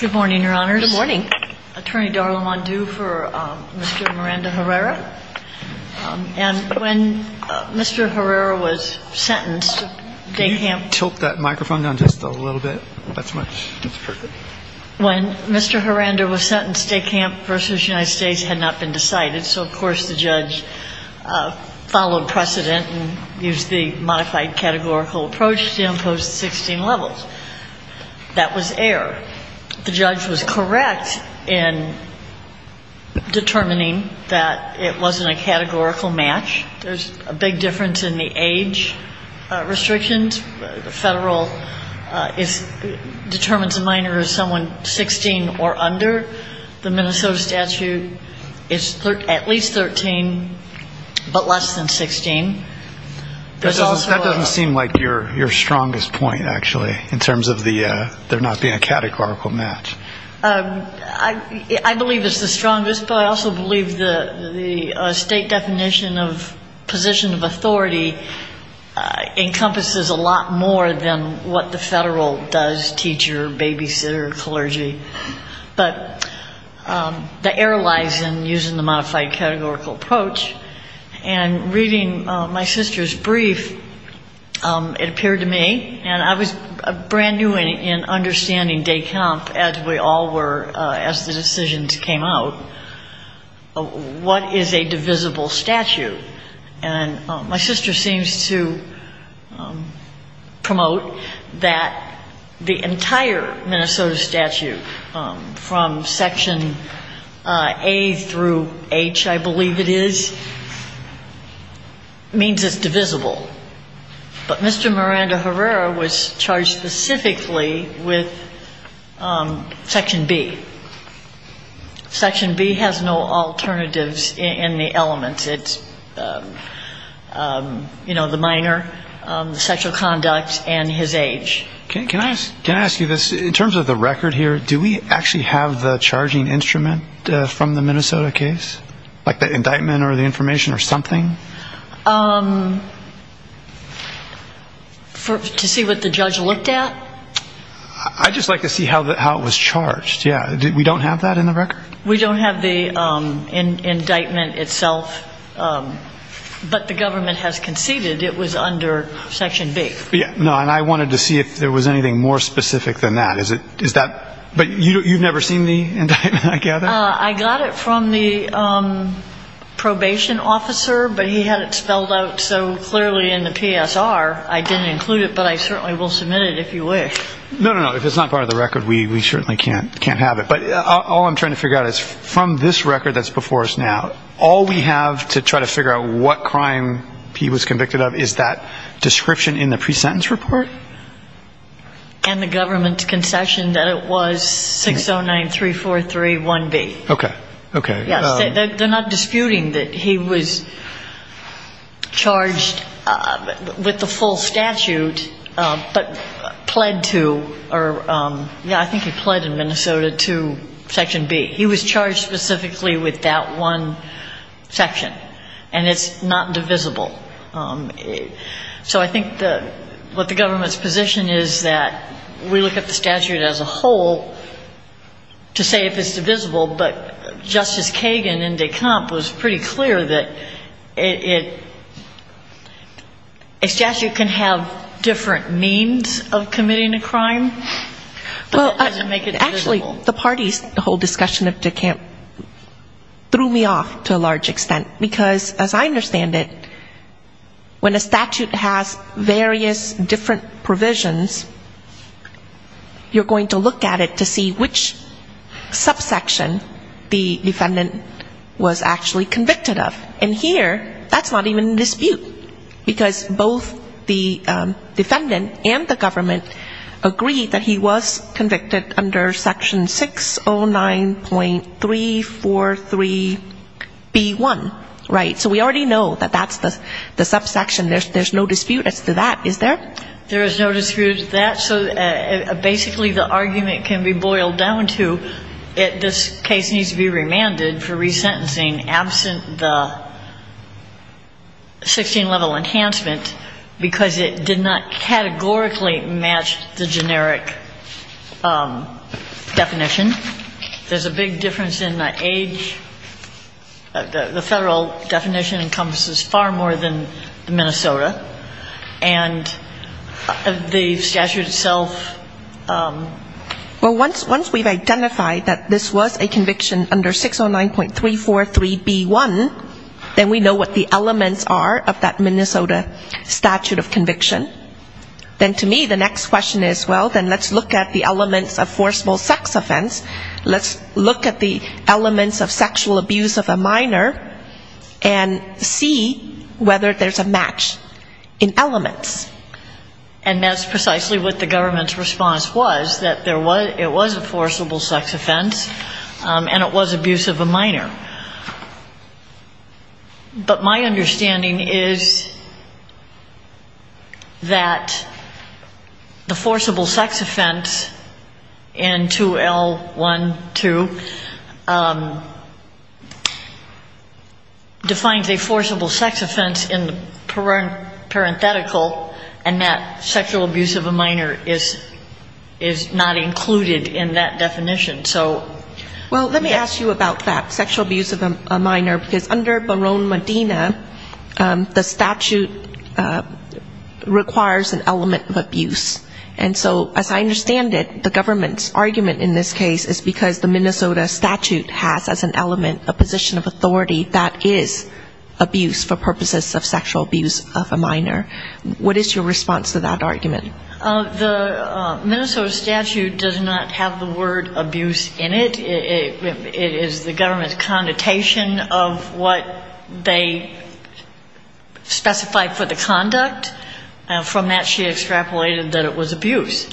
Good morning, Your Honors. Good morning. Attorney Darla Mondu for Mr. Miranda-Herrera. And when Mr. Herrera was sentenced, DECAMP Can you tilt that microphone down just a little bit? That's much, that's perfect. When Mr. Herrera was sentenced, DECAMP v. United States had not been decided, so of course the judge followed precedent and used the modified categorical approach to impose 16 levels. That was error. The judge was correct in determining that it wasn't a categorical match. There's a big difference in the age restrictions. The federal determines a minor as someone 16 or under. The Minnesota statute is at least 13, but less than 16. That doesn't seem like your strongest point, actually, in terms of there not being a categorical match. I believe it's the strongest, but I also believe the state definition of position of authority encompasses a lot more than what the federal does, teacher, babysitter, clergy. But the my sister's brief, it appeared to me, and I was brand new in understanding DECAMP as we all were as the decisions came out, what is a divisible statute? And my sister seems to promote that the entire is divisible. But Mr. Miranda Herrera was charged specifically with Section B. Section B has no alternatives in the elements. It's, you know, the minor, the sexual conduct, and his age. Can I ask you this? In terms of the record here, do we actually have the charging instrument from the Minnesota case? Like the indictment or the information or something? To see what the judge looked at? I'd just like to see how it was charged. We don't have that in the record? We don't have the indictment itself, but the government has conceded it was under Section B. I wanted to see if there was anything more specific than that. But you've never seen the indictment, I gather? I got it from the probation officer, but he had it spelled out so clearly in the PSR. I didn't include it, but I certainly will submit it if you wish. No, no, no. If it's not part of the record, we certainly can't have it. But all I'm trying to figure out is from this record that's before us now, all we have to try to figure out what crime he was convicted of is that description in the pre-sentence report? And the government's concession that it was 6093431B. Okay. Okay. They're not disputing that he was charged with the full statute, but pled to, or I think he pled in Minnesota to Section B. He was charged specifically with that one section. And it's not divisible. So I think what the government's position is that we look at the statute as a whole to say if it's divisible, but Justice Kagan in DeCamp was pretty clear that it, a statute can have different means of committing a crime, but it doesn't make it divisible. Well, actually, the parties, the whole discussion of DeCamp threw me off to a large extent. Because as I different provisions, you're going to look at it to see which subsection the defendant was actually convicted of. And here, that's not even in dispute. Because both the defendant and the government agreed that he was convicted under Section 609.343B1. Right? So we already know that that's the subsection. There's no dispute. It's the There is no dispute of that. So basically the argument can be boiled down to this case needs to be remanded for resentencing absent the 16-level enhancement, because it did not categorically match the generic definition. There's a big difference in the age. The Federal definition encompasses far more than the Minnesota. And the statute itself. Well, once we've identified that this was a conviction under 609.343B1, then we know what the elements are of that Minnesota statute of conviction. Then to me, the next question is, well, then let's look at the elements of forcible sex offense. Let's look at the elements of sexual abuse of a minor and see whether there's a match in elements. And that's precisely what the government's response was, that it was a forcible sex offense, and it was abuse of a minor. But my understanding is that the forcible sex offense in 2L12 defines a forcible sex offense in the current ethical, and that sexual abuse of a minor is not included in that definition. So... Well, let me ask you about that, sexual abuse of a minor, because under Barone Medina, the statute requires an element of abuse. And so as I understand it, the government's argument in this case is because the Minnesota statute has as an element a position of authority, that is abuse for purposes of sexual abuse of a minor. What is your response to that argument? The Minnesota statute does not have the word abuse in it. It is the government's connotation of what they specified for the conduct. From that, she extrapolated that it was abuse.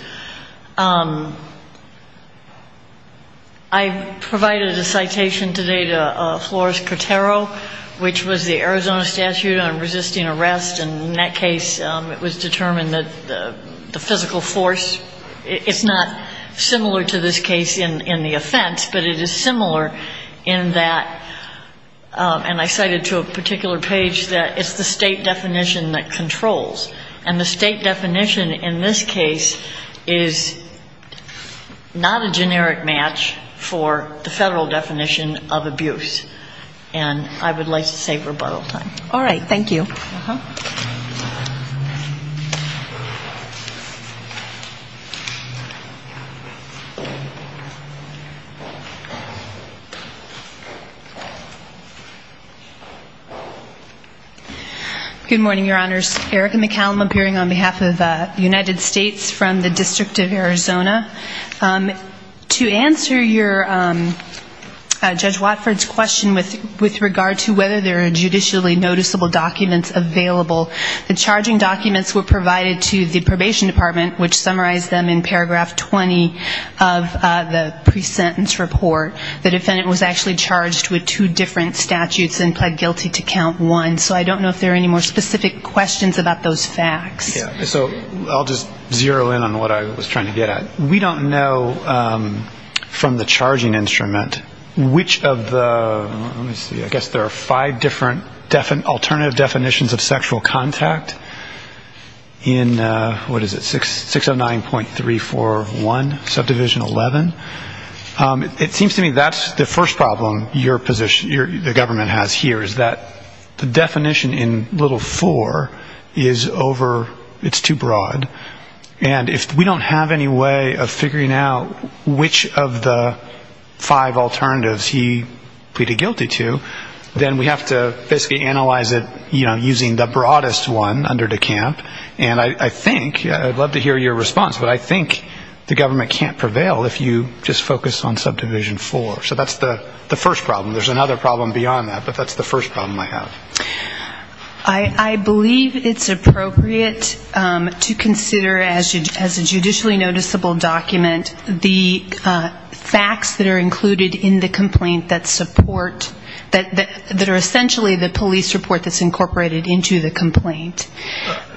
I provided a citation today to a lawyer, and he said that the federal definition of abuse is not a generic match for the federal definition of abuse. And I cited to a particular page that it's the state definition that controls. And the state definition in this case is not a generic match for the federal definition of abuse. And I would like to save rebuttal time. All right. Thank you. Good morning, Your Honors. Erica McCallum appearing on behalf of the United States from the District of Arizona. To answer your question, Judge Watford's question with regard to whether there are judicially noticeable documents available. The charging documents were provided to the probation department, which summarized them in paragraph 20 of the pre-sentence report. The defendant was actually charged with two different statutes and pled guilty to count one. So I don't know if there are any more specific questions about those facts. So I'll just zero in on what I was trying to get at. We don't know from the charging instrument which of the, let me see, I guess there are five different alternative definitions of sexual contact in, what is it, 609.341, subdivision 11. It seems to me that's the first problem your position, the government has here, is that the definition in little four is over the top. It's too broad. And if we don't have any way of figuring out which of the five alternatives he pleaded guilty to, then we have to basically analyze it using the broadest one under the camp. And I think, I'd love to hear your response, but I think the government can't prevail if you just focus on subdivision four. So that's the first problem. There's another problem beyond that, but that's the first problem I have. And that is to consider as a judicially noticeable document the facts that are included in the complaint that support, that are essentially the police report that's incorporated into the complaint.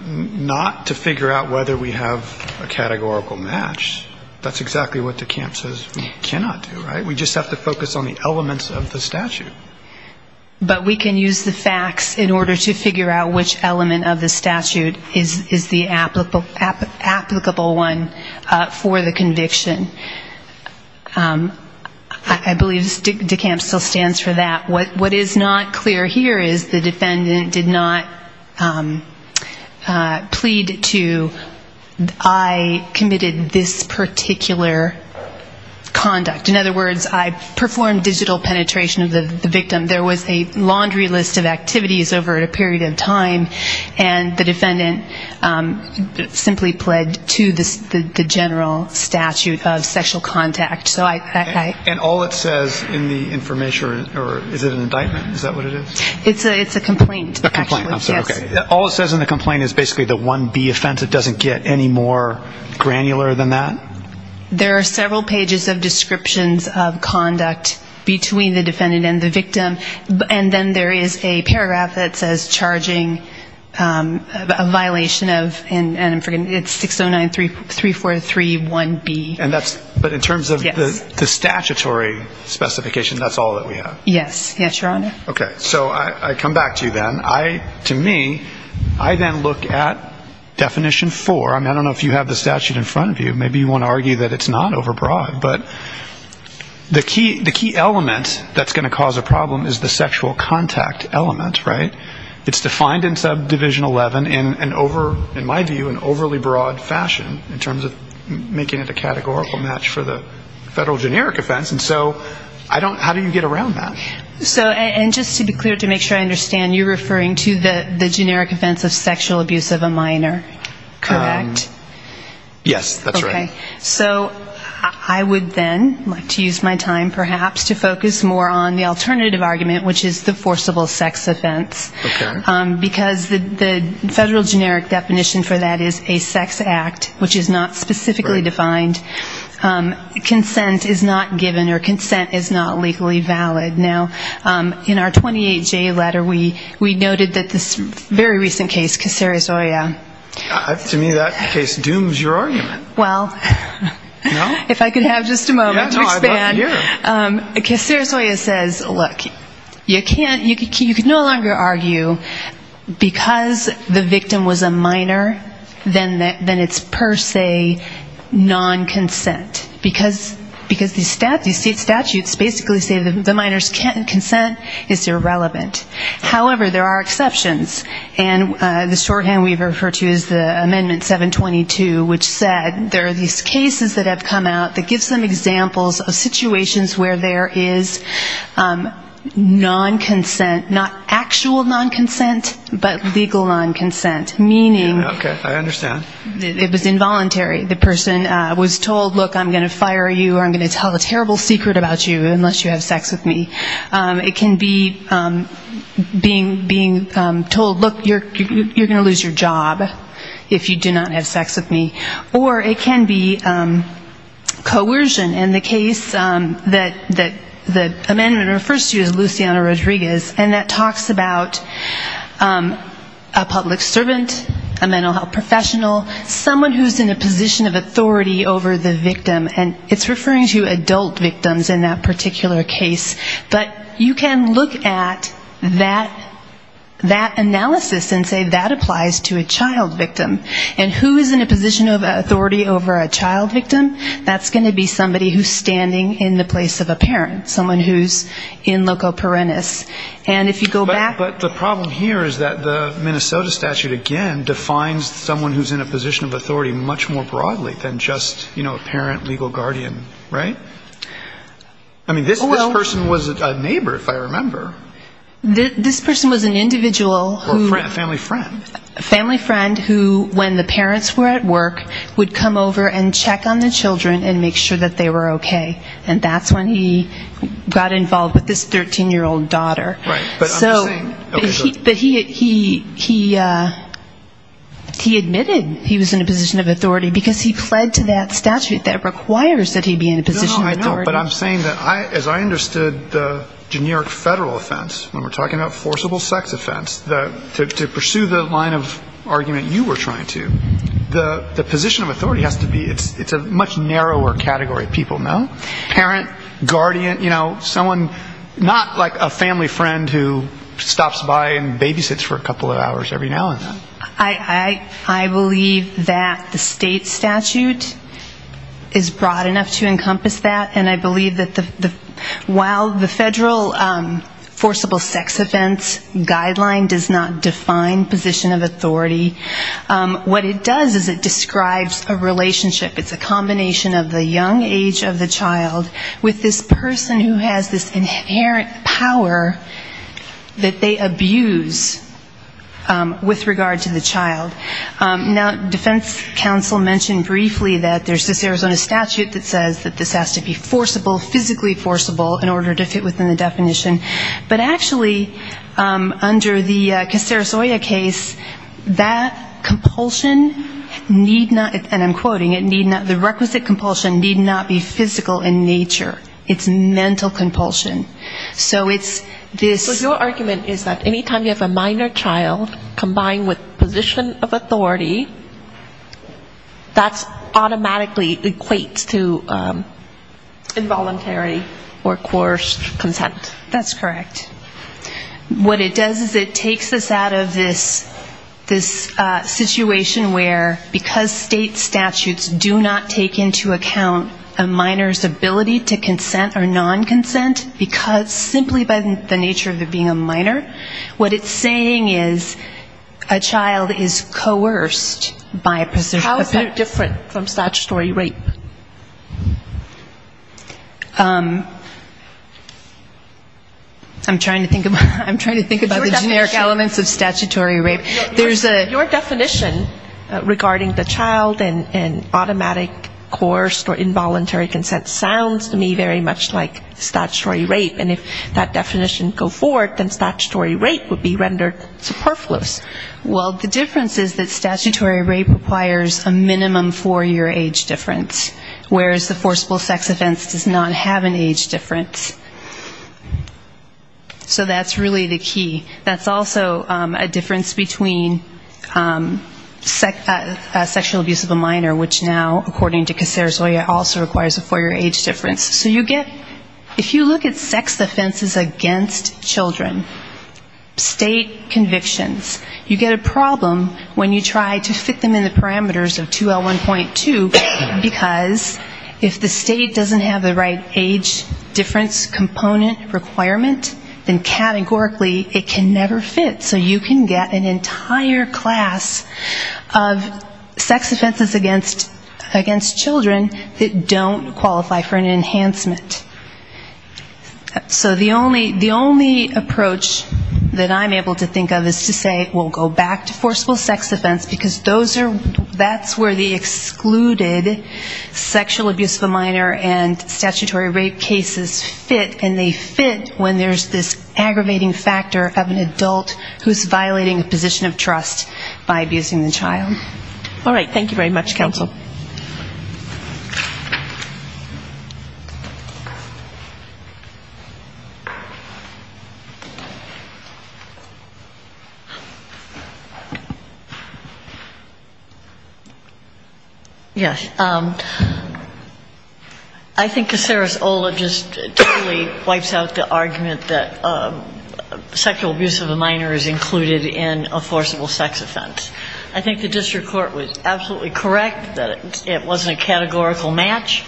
Not to figure out whether we have a categorical match. That's exactly what the camp says we cannot do, right? We just have to focus on the elements of the statute. But we can use the facts in order to figure out which element of the statute is the applicable one for the conviction. I believe the camp still stands for that. What is not clear here is the defendant did not plead to I committed this particular conduct. In other words, I performed digital penetration of the victim. There was a laundry list of activities over a period of time, and the defendant simply pled to the general statute of sexual contact. And all it says in the information, or is it an indictment? Is that what it is? It's a complaint. All it says in the complaint is basically the 1B offense. It doesn't get any more granular than that? There are several pages of descriptions of conduct between the defendant and the victim, and then there is a paragraph that says charging a violation of, and I'm forgetting, it's 609-343-1B. But in terms of the statutory specification, that's all that we have? Yes, Your Honor. Okay. So I come back to you then. To me, I then look at definition four. I don't know if you have the statute in front of you. Maybe you want to argue that it's not overbroad. But the key element that's going to cause a problem is the sexual contact element, right? It's defined in subdivision 11 in my view an overly broad fashion in terms of making it a categorical match for the federal generic offense. And so how do you get around that? And just to be clear, to make sure I understand, you're referring to the generic offense of sexual abuse of a minor, correct? Yes, that's right. Okay. So I would then like to use my time perhaps to focus more on the alternative argument, which is the forcible sex offense. Because the federal generic definition for that is a sex act, which is not specifically defined. Consent is not given or consent is not legally valid. Now, in our 28J letter, we noted that this very recent case, Caceres Oia. To me, that case dooms your argument. Well, if I could have just a moment to expand. Caceres Oia says, look, you can no longer argue because the victim was a minor, then it's per se non-consent. Because these statutes basically say the minor's consent is irrelevant. However, there are exceptions. And the shorthand we refer to is the amendment 722, which said there are these cases that have come out that give some examples of situations where there is non-consent, not actual non-consent, but legal non-consent. Okay. I understand. It was involuntary. The person was told, look, I'm going to fire you or I'm going to tell a terrible secret about you unless you have sex with me. It can be being told, look, you're going to lose your job if you do not have sex with me. Or it can be coercion in the case that the amendment refers to as Luciano Rodriguez, and that talks about a public servant, a professional, someone who's in a position of authority over the victim. And it's referring to adult victims in that particular case. But you can look at that analysis and say that applies to a child victim. And who is in a position of authority over a child victim, that's going to be somebody who's standing in the place of a parent, someone who's in loco parentis. But the problem here is that the Minnesota statute, again, defines someone who's in a position of authority much more broadly than just, you know, a parent, legal guardian, right? I mean, this person was a neighbor, if I remember. This person was an individual who was a family friend who, when the parents were at work, would come over and check on the children and make sure that they were okay. And that's when he got involved with this 13-year-old daughter. So he admitted he was in a position of authority because he pled to that statute that requires that he be in a position of authority. No, no, I know, but I'm saying that as I understood the generic federal offense, when we're talking about forcible sex offense, to pursue the line of argument you were trying to, the position of authority has to be, it's a much narrower category of people, no? Parent, guardian, you know, someone not like a family friend who stops by and babysits for a couple of hours every now and then. I believe that the state statute is broad enough to encompass that, and I believe that while the federal forcible sex offense guideline does not define position of authority, what it does is it describes a relationship, it's a combination of the young age of the child with this person who has this inherent power that they abuse with regard to the child. Now, defense counsel mentioned briefly that there's this Arizona statute that says that this has to be forcible, physically forcible, in order to fit within the definition, but actually under the Castero-Soya case, that compulsion need not, and I'm quoting, it need not, the requisite compulsion need not be physical in nature. It's mental compulsion. So it's this ‑‑ But your argument is that any time you have a minor child combined with position of authority, that's automatically equates to involuntary or coerced consent. That's correct. What it does is it takes us out of this situation where because state statutes do not take into account a minor's ability to consent or non‑consent, because simply by the nature of it being a minor, what it's saying is a child is coerced by position of authority. How is that different from statutory rape? I'm trying to think about the generic elements of statutory rape. Your definition regarding the child and automatic coerced or involuntary consent sounds to me very much like statutory rape. And if that definition go forward, then statutory rape would be rendered superfluous. Well, the difference is that statutory rape requires a minimum four‑year age difference, whereas the forcible sex offense does not have an age difference. So that's really the key. That's also a difference between sexual abuse of a minor, which now, according to Cacerozoia, also requires a four‑year age difference. So you get ‑‑ if you look at sex offenses against children, state convictions, state convictions, state convictions, you get a problem when you try to fit them in the parameters of 2L1.2, because if the state doesn't have the right age difference component requirement, then categorically it can never fit. So you can get an entire class of sex offenses against children that don't qualify for an enhancement. So the only ‑‑ the only approach that I'm able to think of is to say, well, go back to forcible sex offense, because those are ‑‑ that's where the excluded sexual abuse of a minor and statutory rape cases fit, and they fit when there's this aggravating factor of an adult who's violating a position of trust by abusing the child. All right. Thank you very much, counsel. Yes. I think Cacerozoia just totally wipes out the argument that sexual abuse of a minor is included in a forcible sex offense. I think the district court was absolutely correct that it wasn't a categorical match,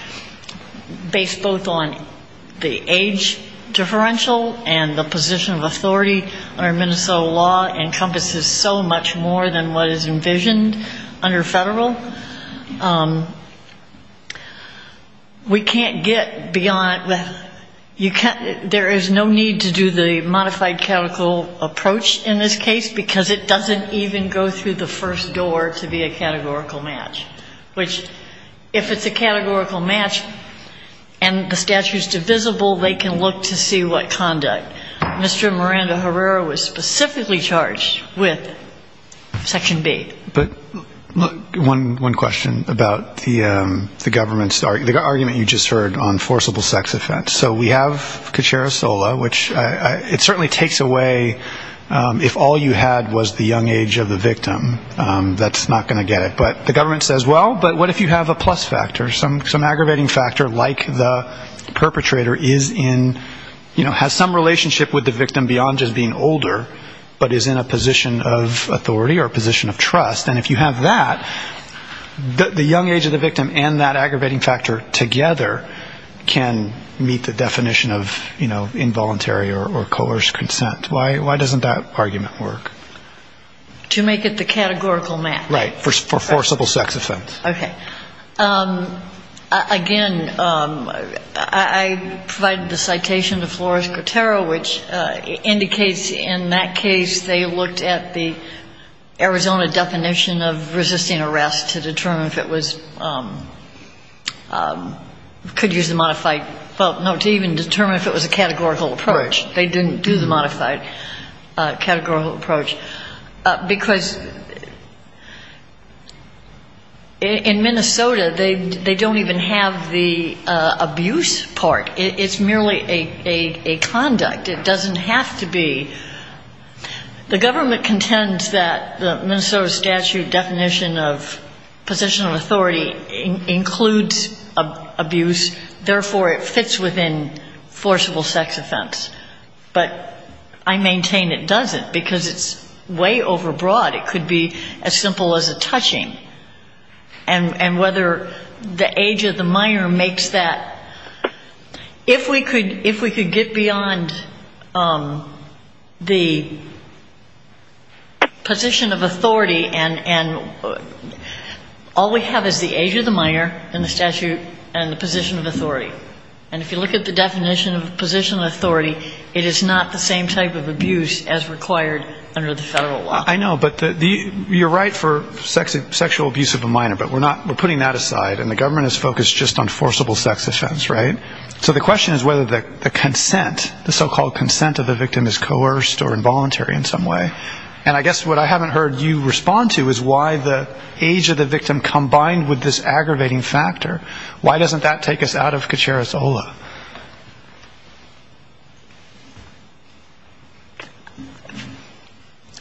based both on the age differential and the position of authority under Minnesota law encompasses so much more than what is envisioned under federal. We can't get beyond ‑‑ there is no need to do the modified categorical approach in this case, because it doesn't even go through the first door to be a categorical match, which if it's a categorical match and the statute is divisible, they can look to see what conduct. Mr. Miranda Herrera was specifically charged with section B. But one question about the government's ‑‑ the argument you just heard on forcible sex offense. So we have the young age of the victim. That's not going to get it. But the government says, well, but what if you have a plus factor, some aggravating factor like the perpetrator is in ‑‑ has some relationship with the victim beyond just being older, but is in a position of authority or position of trust. And if you have that, the young age of the victim and that aggravating factor together can meet the definition of involuntary or coerced consent. Why doesn't that argument work? To make it the categorical match. Right. Forcible sex offense. Okay. Again, I provided the citation to Flores Guterro, which indicates in that case they looked at the Arizona definition of resisting arrest to determine if it was ‑‑ could use the modified ‑‑ well, no, to even determine if it was a categorical approach. They didn't do the categorical approach. Because in Minnesota they don't even have the abuse part. It's merely a conduct. It doesn't have to be ‑‑ the government contends that the Minnesota statute definition of position of authority includes abuse, therefore it fits within forcible sex offense. But I maintain it doesn't, because it's way overbroad. It could be as simple as a touching. And whether the age of the minor makes that ‑‑ if we could ‑‑ if we could get beyond the position of authority and all we have is the age of the minor in the statute and the position of authority, we could get beyond the position of authority. And if you look at the definition of position of authority, it is not the same type of abuse as required under the federal law. I know, but you're right for sexual abuse of a minor, but we're putting that aside and the government is focused just on forcible sex offense, right? So the question is whether the consent, the so‑called consent of the victim is coerced or involuntary in some way. And I guess what I haven't heard you respond to is why the age of the victim combined with this is out of Kacharisola.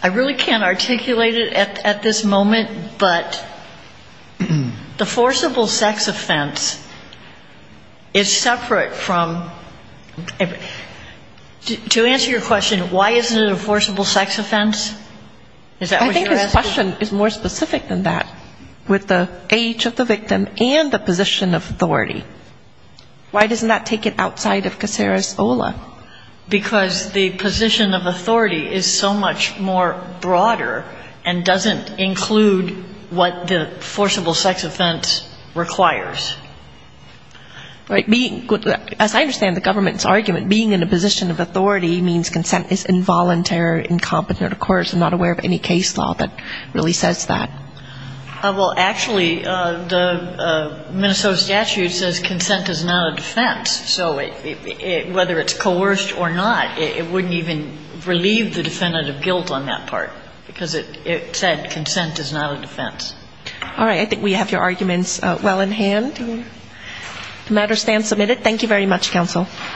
I really can't articulate it at this moment, but the forcible sex offense is separate from ‑‑ to answer your question, why isn't it a forcible sex offense? Is that what you're asking? The question is more specific than that, with the age of the victim and the position of authority. Why doesn't that take it outside of Kacharisola? Because the position of authority is so much more broader and doesn't include what the forcible sex offense requires. As I understand the government's argument, being in a position of authority means consent is involuntary, incompetent, of course, I'm not aware of any case law that really says that. Well, actually, the Minnesota statute says consent is not a defense. So whether it's coerced or not, it wouldn't even relieve the defendant of guilt on that part, because it said consent is not a defense. All right. I think we have your arguments well in hand. The matter stands submitted. Thank you very much, counsel.